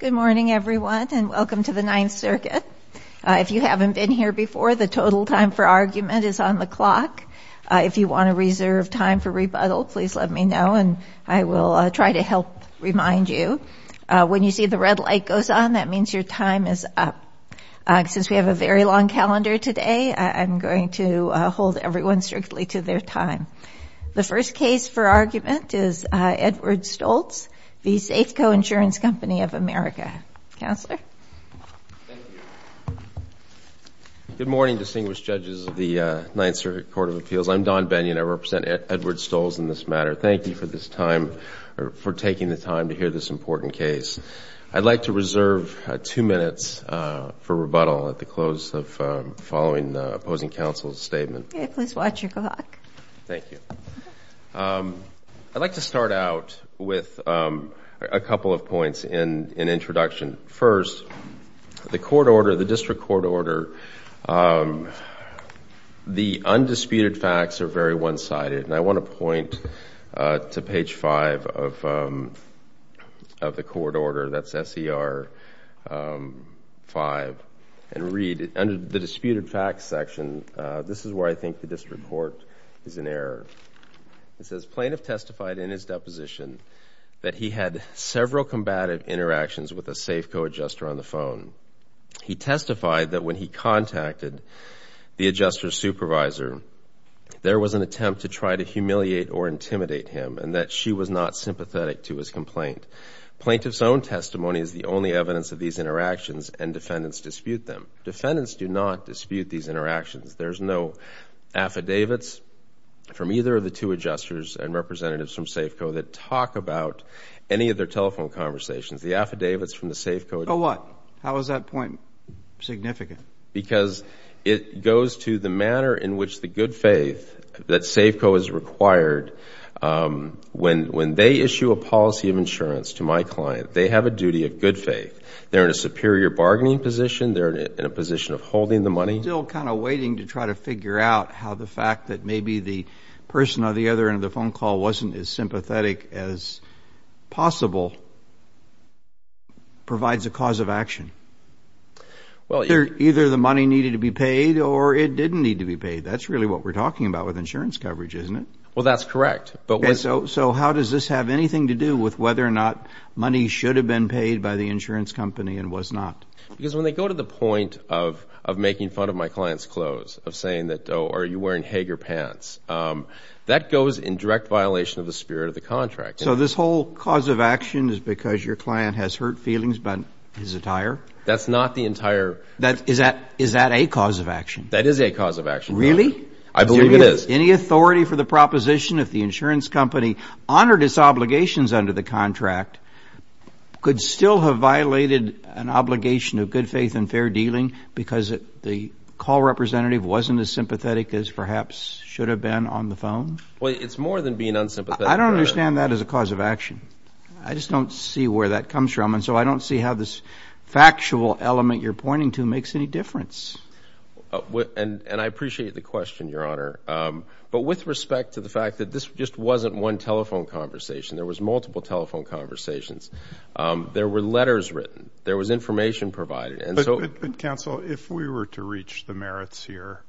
Good morning, everyone, and welcome to the Ninth Circuit. If you haven't been here before, the total time for argument is on the clock. If you want to reserve time for rebuttal, please let me know, and I will try to help remind you. When you see the red light goes on, that means your time is up. Since we have a very long calendar today, I'm going to hold everyone strictly to their time. The first case for argument is Edward Stolz v. Safeco Insurance Company of America. Counselor? Thank you. Good morning, distinguished judges of the Ninth Circuit Court of Appeals. I'm Don Bennion. I represent Edward Stolz in this matter. Thank you for this time or for taking the time to hear this important case. I'd like to reserve two minutes for rebuttal at the close of following the opposing counsel's statement. Please watch your clock. Thank you. I'd like to start out with a couple of points in introduction. First, the court order, the district court order, the undisputed facts are very one-sided, and I want to point to page 5 of the court order, that's S.E.R. 5, and read. Under the disputed facts section, this is where I think the district court is in error. It says, plaintiff testified in his deposition that he had several combative interactions with a Safeco adjuster on the phone. He testified that when he contacted the adjuster's supervisor, there was an attempt to try to humiliate or intimidate him and that she was not sympathetic to his complaint. Plaintiff's own testimony is the only evidence of these interactions, and defendants dispute them. Defendants do not dispute these interactions. There's no affidavits from either of the two adjusters and representatives from Safeco that talk about any of their telephone conversations. The affidavits from the Safeco— A what? How is that point significant? Because it goes to the manner in which the good faith that Safeco has required, when they issue a policy of insurance to my client, they have a duty of good faith. They're in a superior bargaining position. They're in a position of holding the money. Still kind of waiting to try to figure out how the fact that maybe the person on the other end of the phone call wasn't as sympathetic as possible provides a cause of action. Either the money needed to be paid or it didn't need to be paid. That's really what we're talking about with insurance coverage, isn't it? Well, that's correct. So how does this have anything to do with whether or not money should have been paid by the insurance company and was not? Because when they go to the point of making fun of my client's clothes, of saying that, oh, are you wearing Hager pants, that goes in direct violation of the spirit of the contract. So this whole cause of action is because your client has hurt feelings about his attire? That's not the entire— Is that a cause of action? That is a cause of action. Really? I believe it is. Any authority for the proposition if the insurance company honored its obligations under the contract could still have violated an obligation of good faith and fair dealing because the call representative wasn't as sympathetic as perhaps should have been on the phone? Well, it's more than being unsympathetic. I don't understand that as a cause of action. I just don't see where that comes from, and so I don't see how this factual element you're pointing to makes any difference. And I appreciate the question, Your Honor, but with respect to the fact that this just wasn't one telephone conversation. There was multiple telephone conversations. There were letters written. There was information provided. But, counsel, if we were to reach the merits here,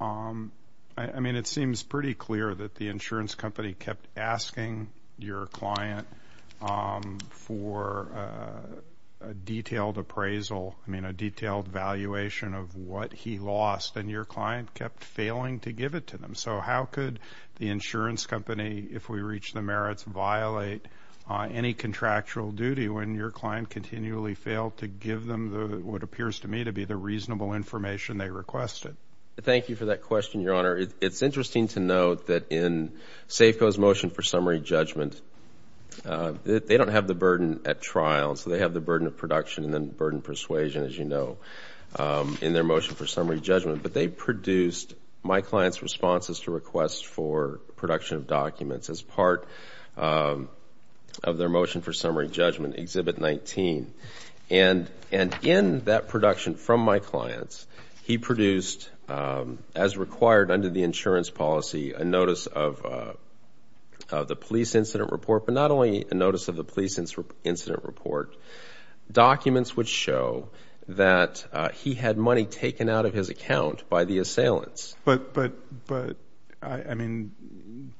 I mean it seems pretty clear that the insurance company kept asking your client for a detailed appraisal, I mean a detailed valuation of what he lost, and your client kept failing to give it to them. So how could the insurance company, if we reach the merits, violate any contractual duty when your client continually failed to give them what appears to me to be the reasonable information they requested? Thank you for that question, Your Honor. It's interesting to note that in Safeco's motion for summary judgment, they don't have the burden at trial, and so they have the burden of production and the burden of persuasion, as you know, in their motion for summary judgment. But they produced my client's responses to requests for production of documents as part of their motion for summary judgment, Exhibit 19. And in that production from my clients, he produced, as required under the insurance policy, a notice of the police incident report, but not only a notice of the police incident report. Documents would show that he had money taken out of his account by the assailants. But, I mean,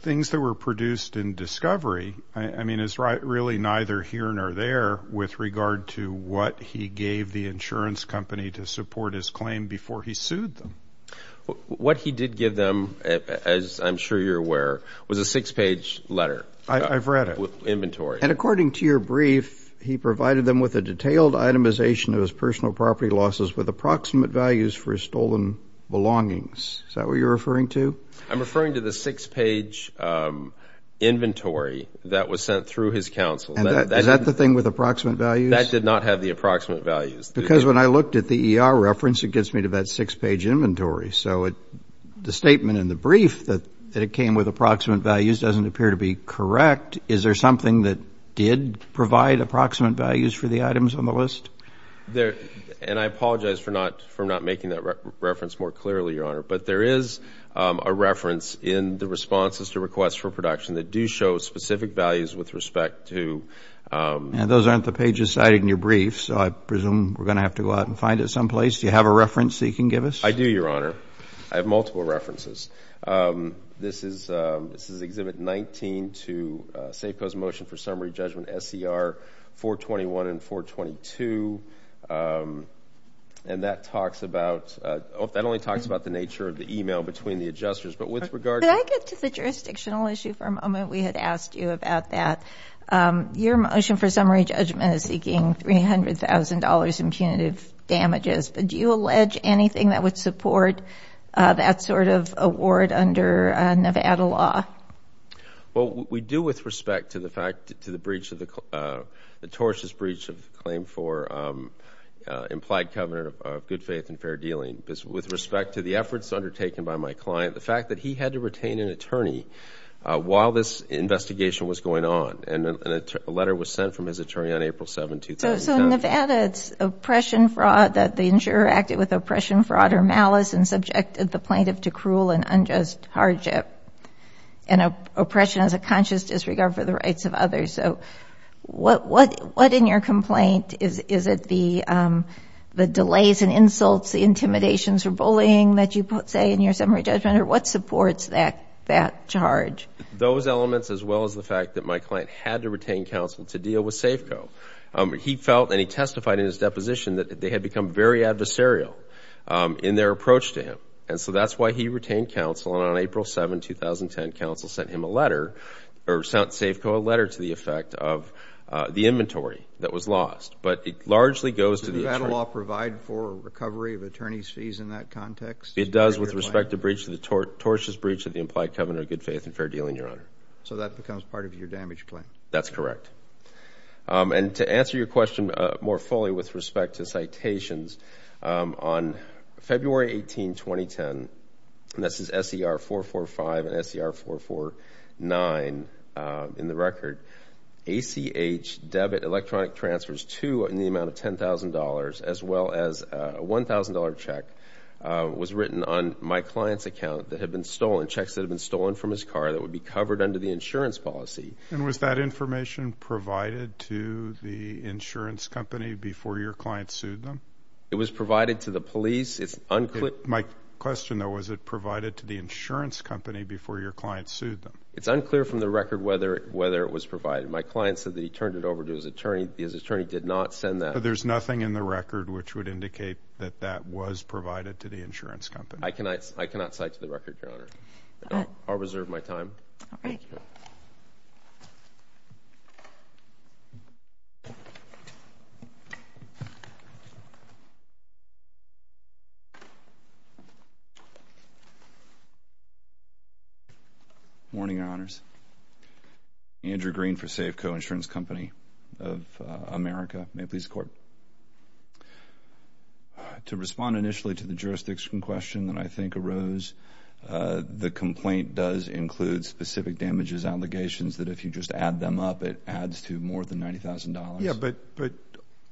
things that were produced in discovery, I mean, is really neither here nor there with regard to what he gave the insurance company to support his claim before he sued them. What he did give them, as I'm sure you're aware, was a six-page letter. I've read it. Inventory. And according to your brief, he provided them with a detailed itemization of his personal property losses with approximate values for his stolen belongings. Is that what you're referring to? I'm referring to the six-page inventory that was sent through his counsel. Is that the thing with approximate values? That did not have the approximate values. Because when I looked at the ER reference, it gets me to that six-page inventory. So the statement in the brief that it came with approximate values doesn't appear to be correct. Is there something that did provide approximate values for the items on the list? And I apologize for not making that reference more clearly, Your Honor, but there is a reference in the responses to requests for production that do show specific values with respect to. And those aren't the pages cited in your brief, so I presume we're going to have to go out and find it someplace. Do you have a reference that you can give us? I do, Your Honor. I have multiple references. This is Exhibit 19 to Safeco's Motion for Summary Judgment SCR 421 and 422. And that talks about the nature of the e-mail between the adjusters. But with regard to... Could I get to the jurisdictional issue for a moment? We had asked you about that. Your motion for summary judgment is seeking $300,000 in punitive damages, but do you allege anything that would support that sort of award under Nevada law? Well, we do with respect to the breach of the... the tortious breach of the claim for implied covenant of good faith and fair dealing. The fact that he had to retain an attorney while this investigation was going on. And a letter was sent from his attorney on April 7, 2009. So in Nevada, it's oppression, fraud, that the insurer acted with oppression, fraud, or malice and subjected the plaintiff to cruel and unjust hardship. And oppression is a conscious disregard for the rights of others. So what in your complaint is it the delays and insults, the intimidations for bullying that you say in your summary judgment, or what supports that charge? Those elements as well as the fact that my client had to retain counsel to deal with Safeco. He felt and he testified in his deposition that they had become very adversarial in their approach to him. And so that's why he retained counsel. And on April 7, 2010, counsel sent him a letter or sent Safeco a letter to the effect of the inventory that was lost. But it largely goes to the attorney... It does with respect to breach of the tortious breach of the implied covenant of good faith and fair dealing, Your Honor. So that becomes part of your damage claim. That's correct. And to answer your question more fully with respect to citations, on February 18, 2010, and this is SER 445 and SER 449 in the record, ACH debit electronic transfers to in the amount of $10,000 as well as a $1,000 check was written on my client's account that had been stolen, checks that had been stolen from his car that would be covered under the insurance policy. And was that information provided to the insurance company before your client sued them? It was provided to the police. My question, though, was it provided to the insurance company before your client sued them? It's unclear from the record whether it was provided. My client said that he turned it over to his attorney. His attorney did not send that. So there's nothing in the record which would indicate that that was provided to the insurance company. I cannot cite to the record, Your Honor. All right. I'll reserve my time. All right. Good morning, Your Honors. Andrew Green for Safeco Insurance Company of America. May it please the Court. To respond initially to the jurisdiction question that I think arose, the complaint does include specific damages allegations that if you just add them up, it adds to more than $90,000. Yeah, but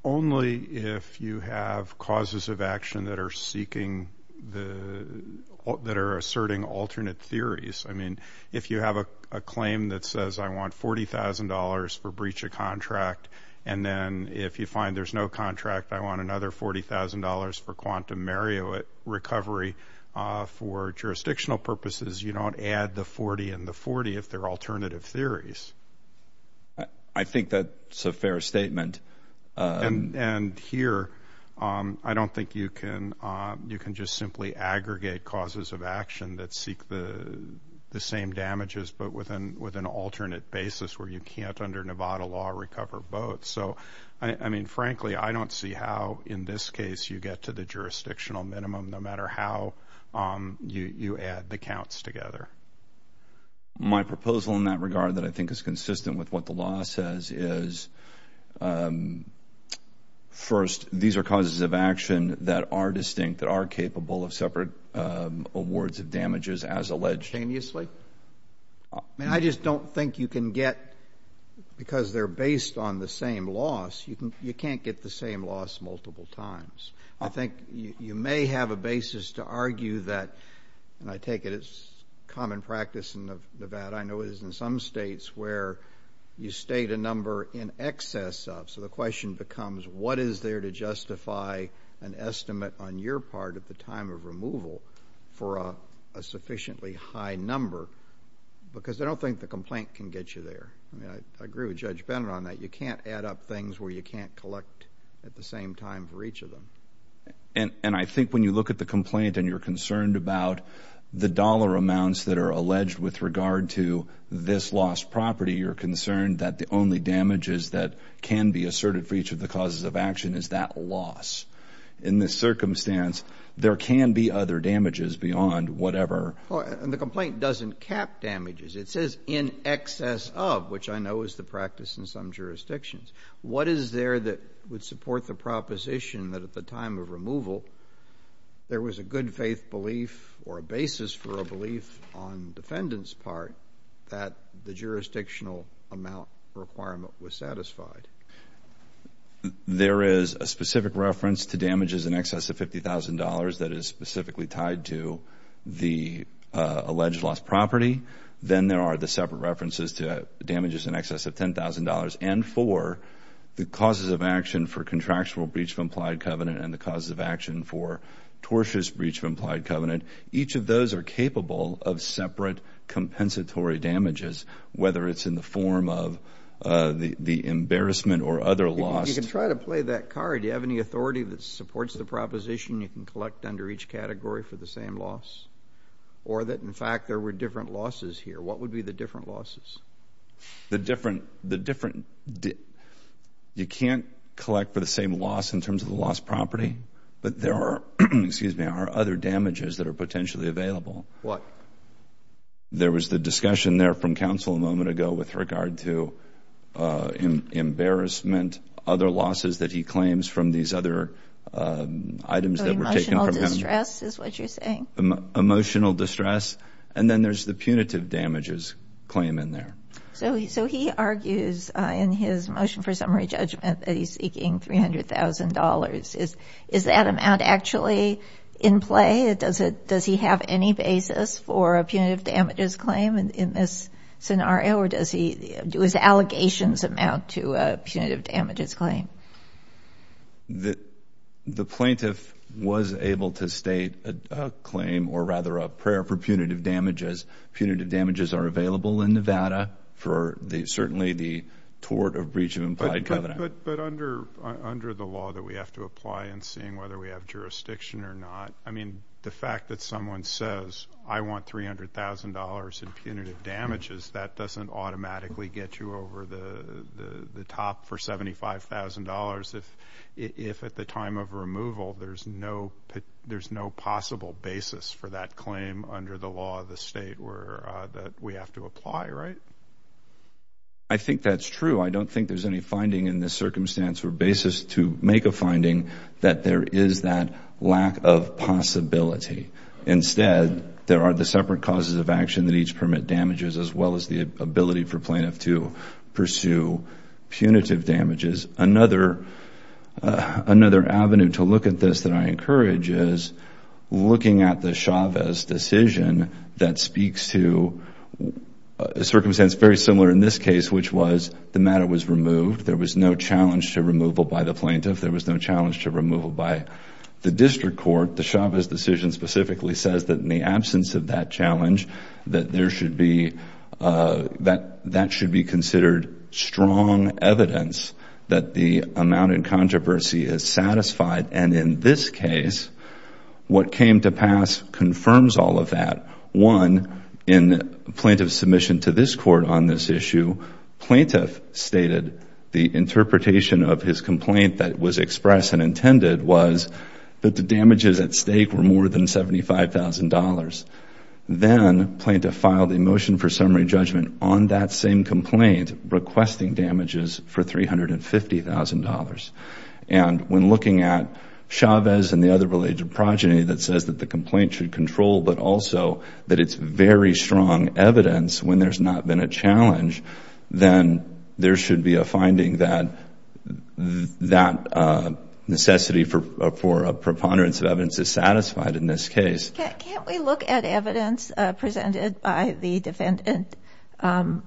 only if you have causes of action that are seeking the – that are asserting alternate theories. I mean, if you have a claim that says I want $40,000 for breach of contract and then if you find there's no contract, I want another $40,000 for quantum Marriott recovery, for jurisdictional purposes, you don't add the 40 and the 40 if they're alternative theories. I think that's a fair statement. And here, I don't think you can just simply aggregate causes of action that seek the same damages but with an alternate basis where you can't under Nevada law recover both. So, I mean, frankly, I don't see how in this case you get to the jurisdictional minimum, no matter how you add the counts together. My proposal in that regard that I think is consistent with what the law says is, first, these are causes of action that are distinct, that are capable of separate awards of damages as alleged. I mean, I just don't think you can get, because they're based on the same loss, you can't get the same loss multiple times. I think you may have a basis to argue that, and I take it as common practice in Nevada. I know it is in some states where you state a number in excess of. So the question becomes what is there to justify an estimate on your part at the time of removal for a sufficiently high number, because I don't think the complaint can get you there. I mean, I agree with Judge Bennett on that. You can't add up things where you can't collect at the same time for each of them. And I think when you look at the complaint and you're concerned about the dollar amounts that are alleged with regard to this lost property, you're concerned that the only damages that can be asserted for each of the causes of action is that loss. In this circumstance, there can be other damages beyond whatever. And the complaint doesn't cap damages. It says in excess of, which I know is the practice in some jurisdictions. What is there that would support the proposition that at the time of removal there was a good faith belief or a basis for a belief on defendant's part that the jurisdictional amount requirement was satisfied? There is a specific reference to damages in excess of $50,000 that is specifically tied to the alleged lost property. Then there are the separate references to damages in excess of $10,000 and for the causes of action for contractual breach of implied covenant and the causes of action for tortious breach of implied covenant. Each of those are capable of separate compensatory damages, whether it's in the form of the embarrassment or other loss. You can try to play that card. Do you have any authority that supports the proposition you can collect under each category for the same loss or that, in fact, there were different losses here? What would be the different losses? You can't collect for the same loss in terms of the lost property, but there are other damages that are potentially available. What? There was the discussion there from counsel a moment ago with regard to embarrassment, other losses that he claims from these other items that were taken from him. Emotional distress is what you're saying? Emotional distress, and then there's the punitive damages claim in there. So he argues in his motion for summary judgment that he's seeking $300,000. Is that amount actually in play? Does he have any basis for a punitive damages claim in this scenario, or do his allegations amount to a punitive damages claim? The plaintiff was able to state a claim, or rather a prayer, for punitive damages. Punitive damages are available in Nevada for certainly the tort or breach of implied covenant. But under the law that we have to apply in seeing whether we have jurisdiction or not, I mean, the fact that someone says, I want $300,000 in punitive damages, that doesn't automatically get you over the top for $75,000 if at the time of removal there's no possible basis for that claim under the law of the State that we have to apply, right? I think that's true. I don't think there's any finding in this circumstance or basis to make a finding that there is that lack of possibility. Instead, there are the separate causes of action that each permit damages as well as the ability for plaintiff to pursue punitive damages. Another avenue to look at this that I encourage is looking at the Chavez decision that speaks to a circumstance very similar in this case, which was the matter was removed. There was no challenge to removal by the plaintiff. There was no challenge to removal by the district court. The Chavez decision specifically says that in the absence of that challenge, that there should be considered strong evidence that the amount in controversy is satisfied. And in this case, what came to pass confirms all of that. One, in plaintiff's submission to this court on this issue, plaintiff stated the interpretation of his complaint that was expressed and intended was that the damages at stake were more than $75,000. Then plaintiff filed a motion for summary judgment on that same complaint requesting damages for $350,000. And when looking at Chavez and the other related progeny that says that the complaint should control but also that it's very strong evidence when there's not been a challenge, then there should be a finding that that necessity for a preponderance of evidence is satisfied in this case. Can't we look at evidence presented by the defendant on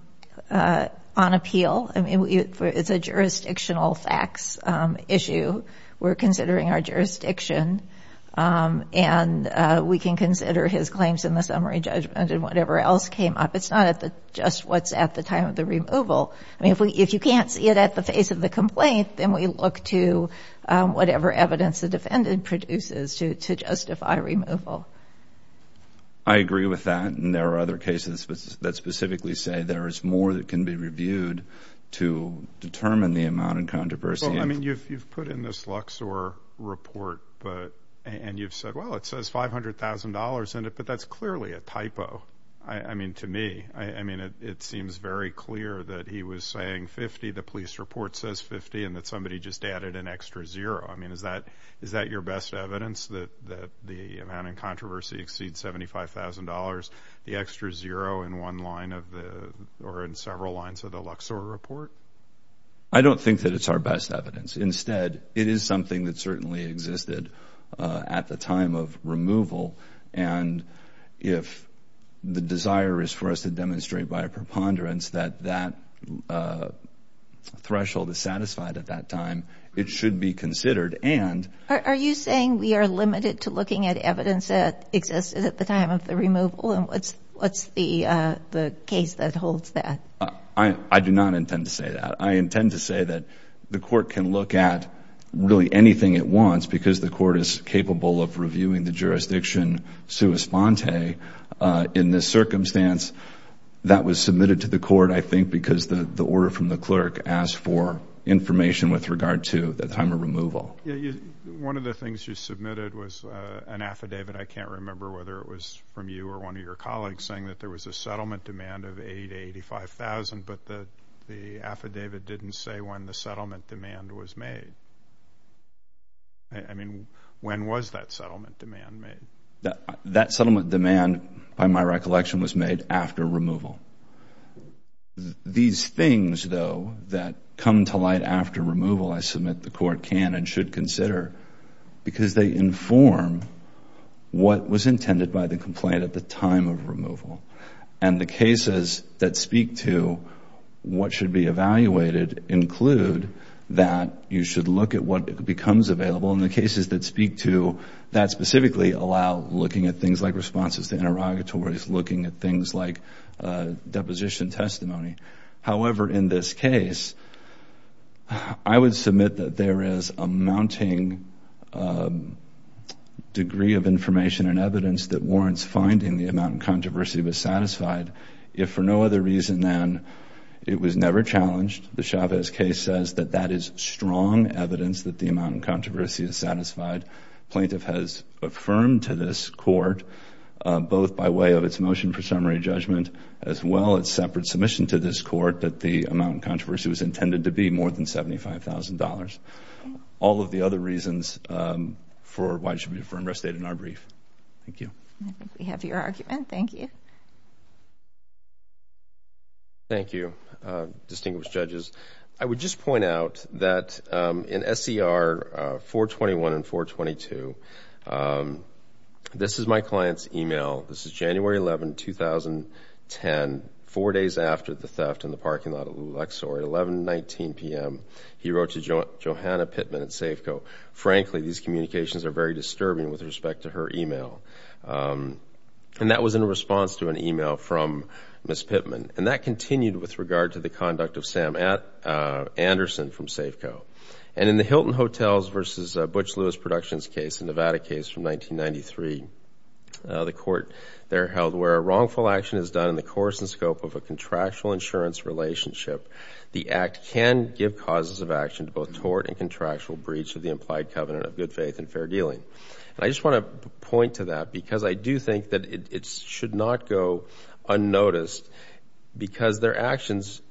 appeal? I mean, it's a jurisdictional facts issue. We're considering our jurisdiction, and we can consider his claims in the summary judgment and whatever else came up. It's not just what's at the time of the removal. I mean, if you can't see it at the face of the complaint, then we look to whatever evidence the defendant produces to justify removal. I agree with that, and there are other cases that specifically say there is more that can be reviewed to determine the amount in controversy. I mean, you've put in this Luxor report, and you've said, well, it says $500,000 in it, but that's clearly a typo, I mean, to me. I mean, it seems very clear that he was saying 50, the police report says 50, and that somebody just added an extra zero. I mean, is that your best evidence, that the amount in controversy exceeds $75,000, the extra zero in one line or in several lines of the Luxor report? I don't think that it's our best evidence. Instead, it is something that certainly existed at the time of removal, and if the desire is for us to demonstrate by a preponderance that that threshold is satisfied at that time, it should be considered. Are you saying we are limited to looking at evidence that existed at the time of the removal, and what's the case that holds that? I do not intend to say that. I intend to say that the court can look at really anything it wants because the court is capable of reviewing the jurisdiction sua sponte. In this circumstance, that was submitted to the court, I think, because the order from the clerk asked for information with regard to the time of removal. One of the things you submitted was an affidavit. I can't remember whether it was from you or one of your colleagues, saying that there was a settlement demand of $80,000 to $85,000, but the affidavit didn't say when the settlement demand was made. I mean, when was that settlement demand made? That settlement demand, by my recollection, was made after removal. These things, though, that come to light after removal, I submit the court can and should consider because they inform what was intended by the complaint at the time of removal. And the cases that speak to what should be evaluated include that you should look at what becomes available. And the cases that speak to that specifically allow looking at things like responses to interrogatories, looking at things like deposition testimony. However, in this case, I would submit that there is a mounting degree of information and evidence that warrants finding the amount of controversy was satisfied, if for no other reason than it was never challenged. The Chavez case says that that is strong evidence that the amount of controversy is satisfied. Plaintiff has affirmed to this court, both by way of its motion for summary judgment, as well as separate submission to this court, that the amount of controversy was intended to be more than $75,000. All of the other reasons for why it should be a firm restate in our brief. Thank you. I think we have your argument. Thank you. Thank you, distinguished judges. I would just point out that in SCR 421 and 422, this is my client's email. This is January 11, 2010, four days after the theft in the parking lot of Luxor at 11.19 p.m. He wrote to Johanna Pittman at Safeco. Frankly, these communications are very disturbing with respect to her email. And that was in response to an email from Ms. Pittman. And that continued with regard to the conduct of Sam Anderson from Safeco. And in the Hilton Hotels v. Butch Lewis Productions case, a Nevada case from 1993, the court there held where a wrongful action is done in the course and scope of a contractual insurance relationship, the act can give causes of action to both tort and contractual breach of the implied covenant of good faith and fair dealing. And I just want to point to that because I do think that it should not go unnoticed because their actions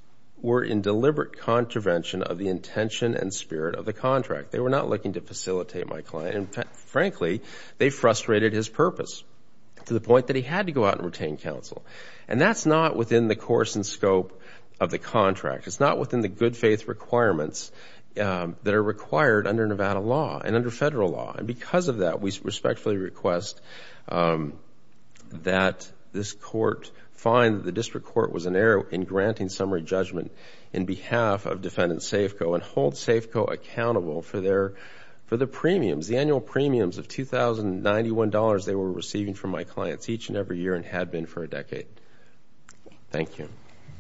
were in deliberate contravention of the intention and spirit of the contract. They were not looking to facilitate my client. And frankly, they frustrated his purpose to the point that he had to go out and retain counsel. And that's not within the course and scope of the contract. It's not within the good faith requirements that are required under Nevada law and under federal law. And because of that, we respectfully request that this court find the district court was in error in granting summary judgment in behalf of defendant Safeco and hold Safeco accountable for the premiums, the annual premiums of $2,091 they were receiving from my clients each and every year and had been for a decade. Thank you.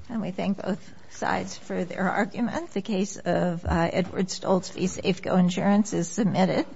And we thank both sides for their argument. The case of Edward Stoltz v. Safeco Insurance is submitted.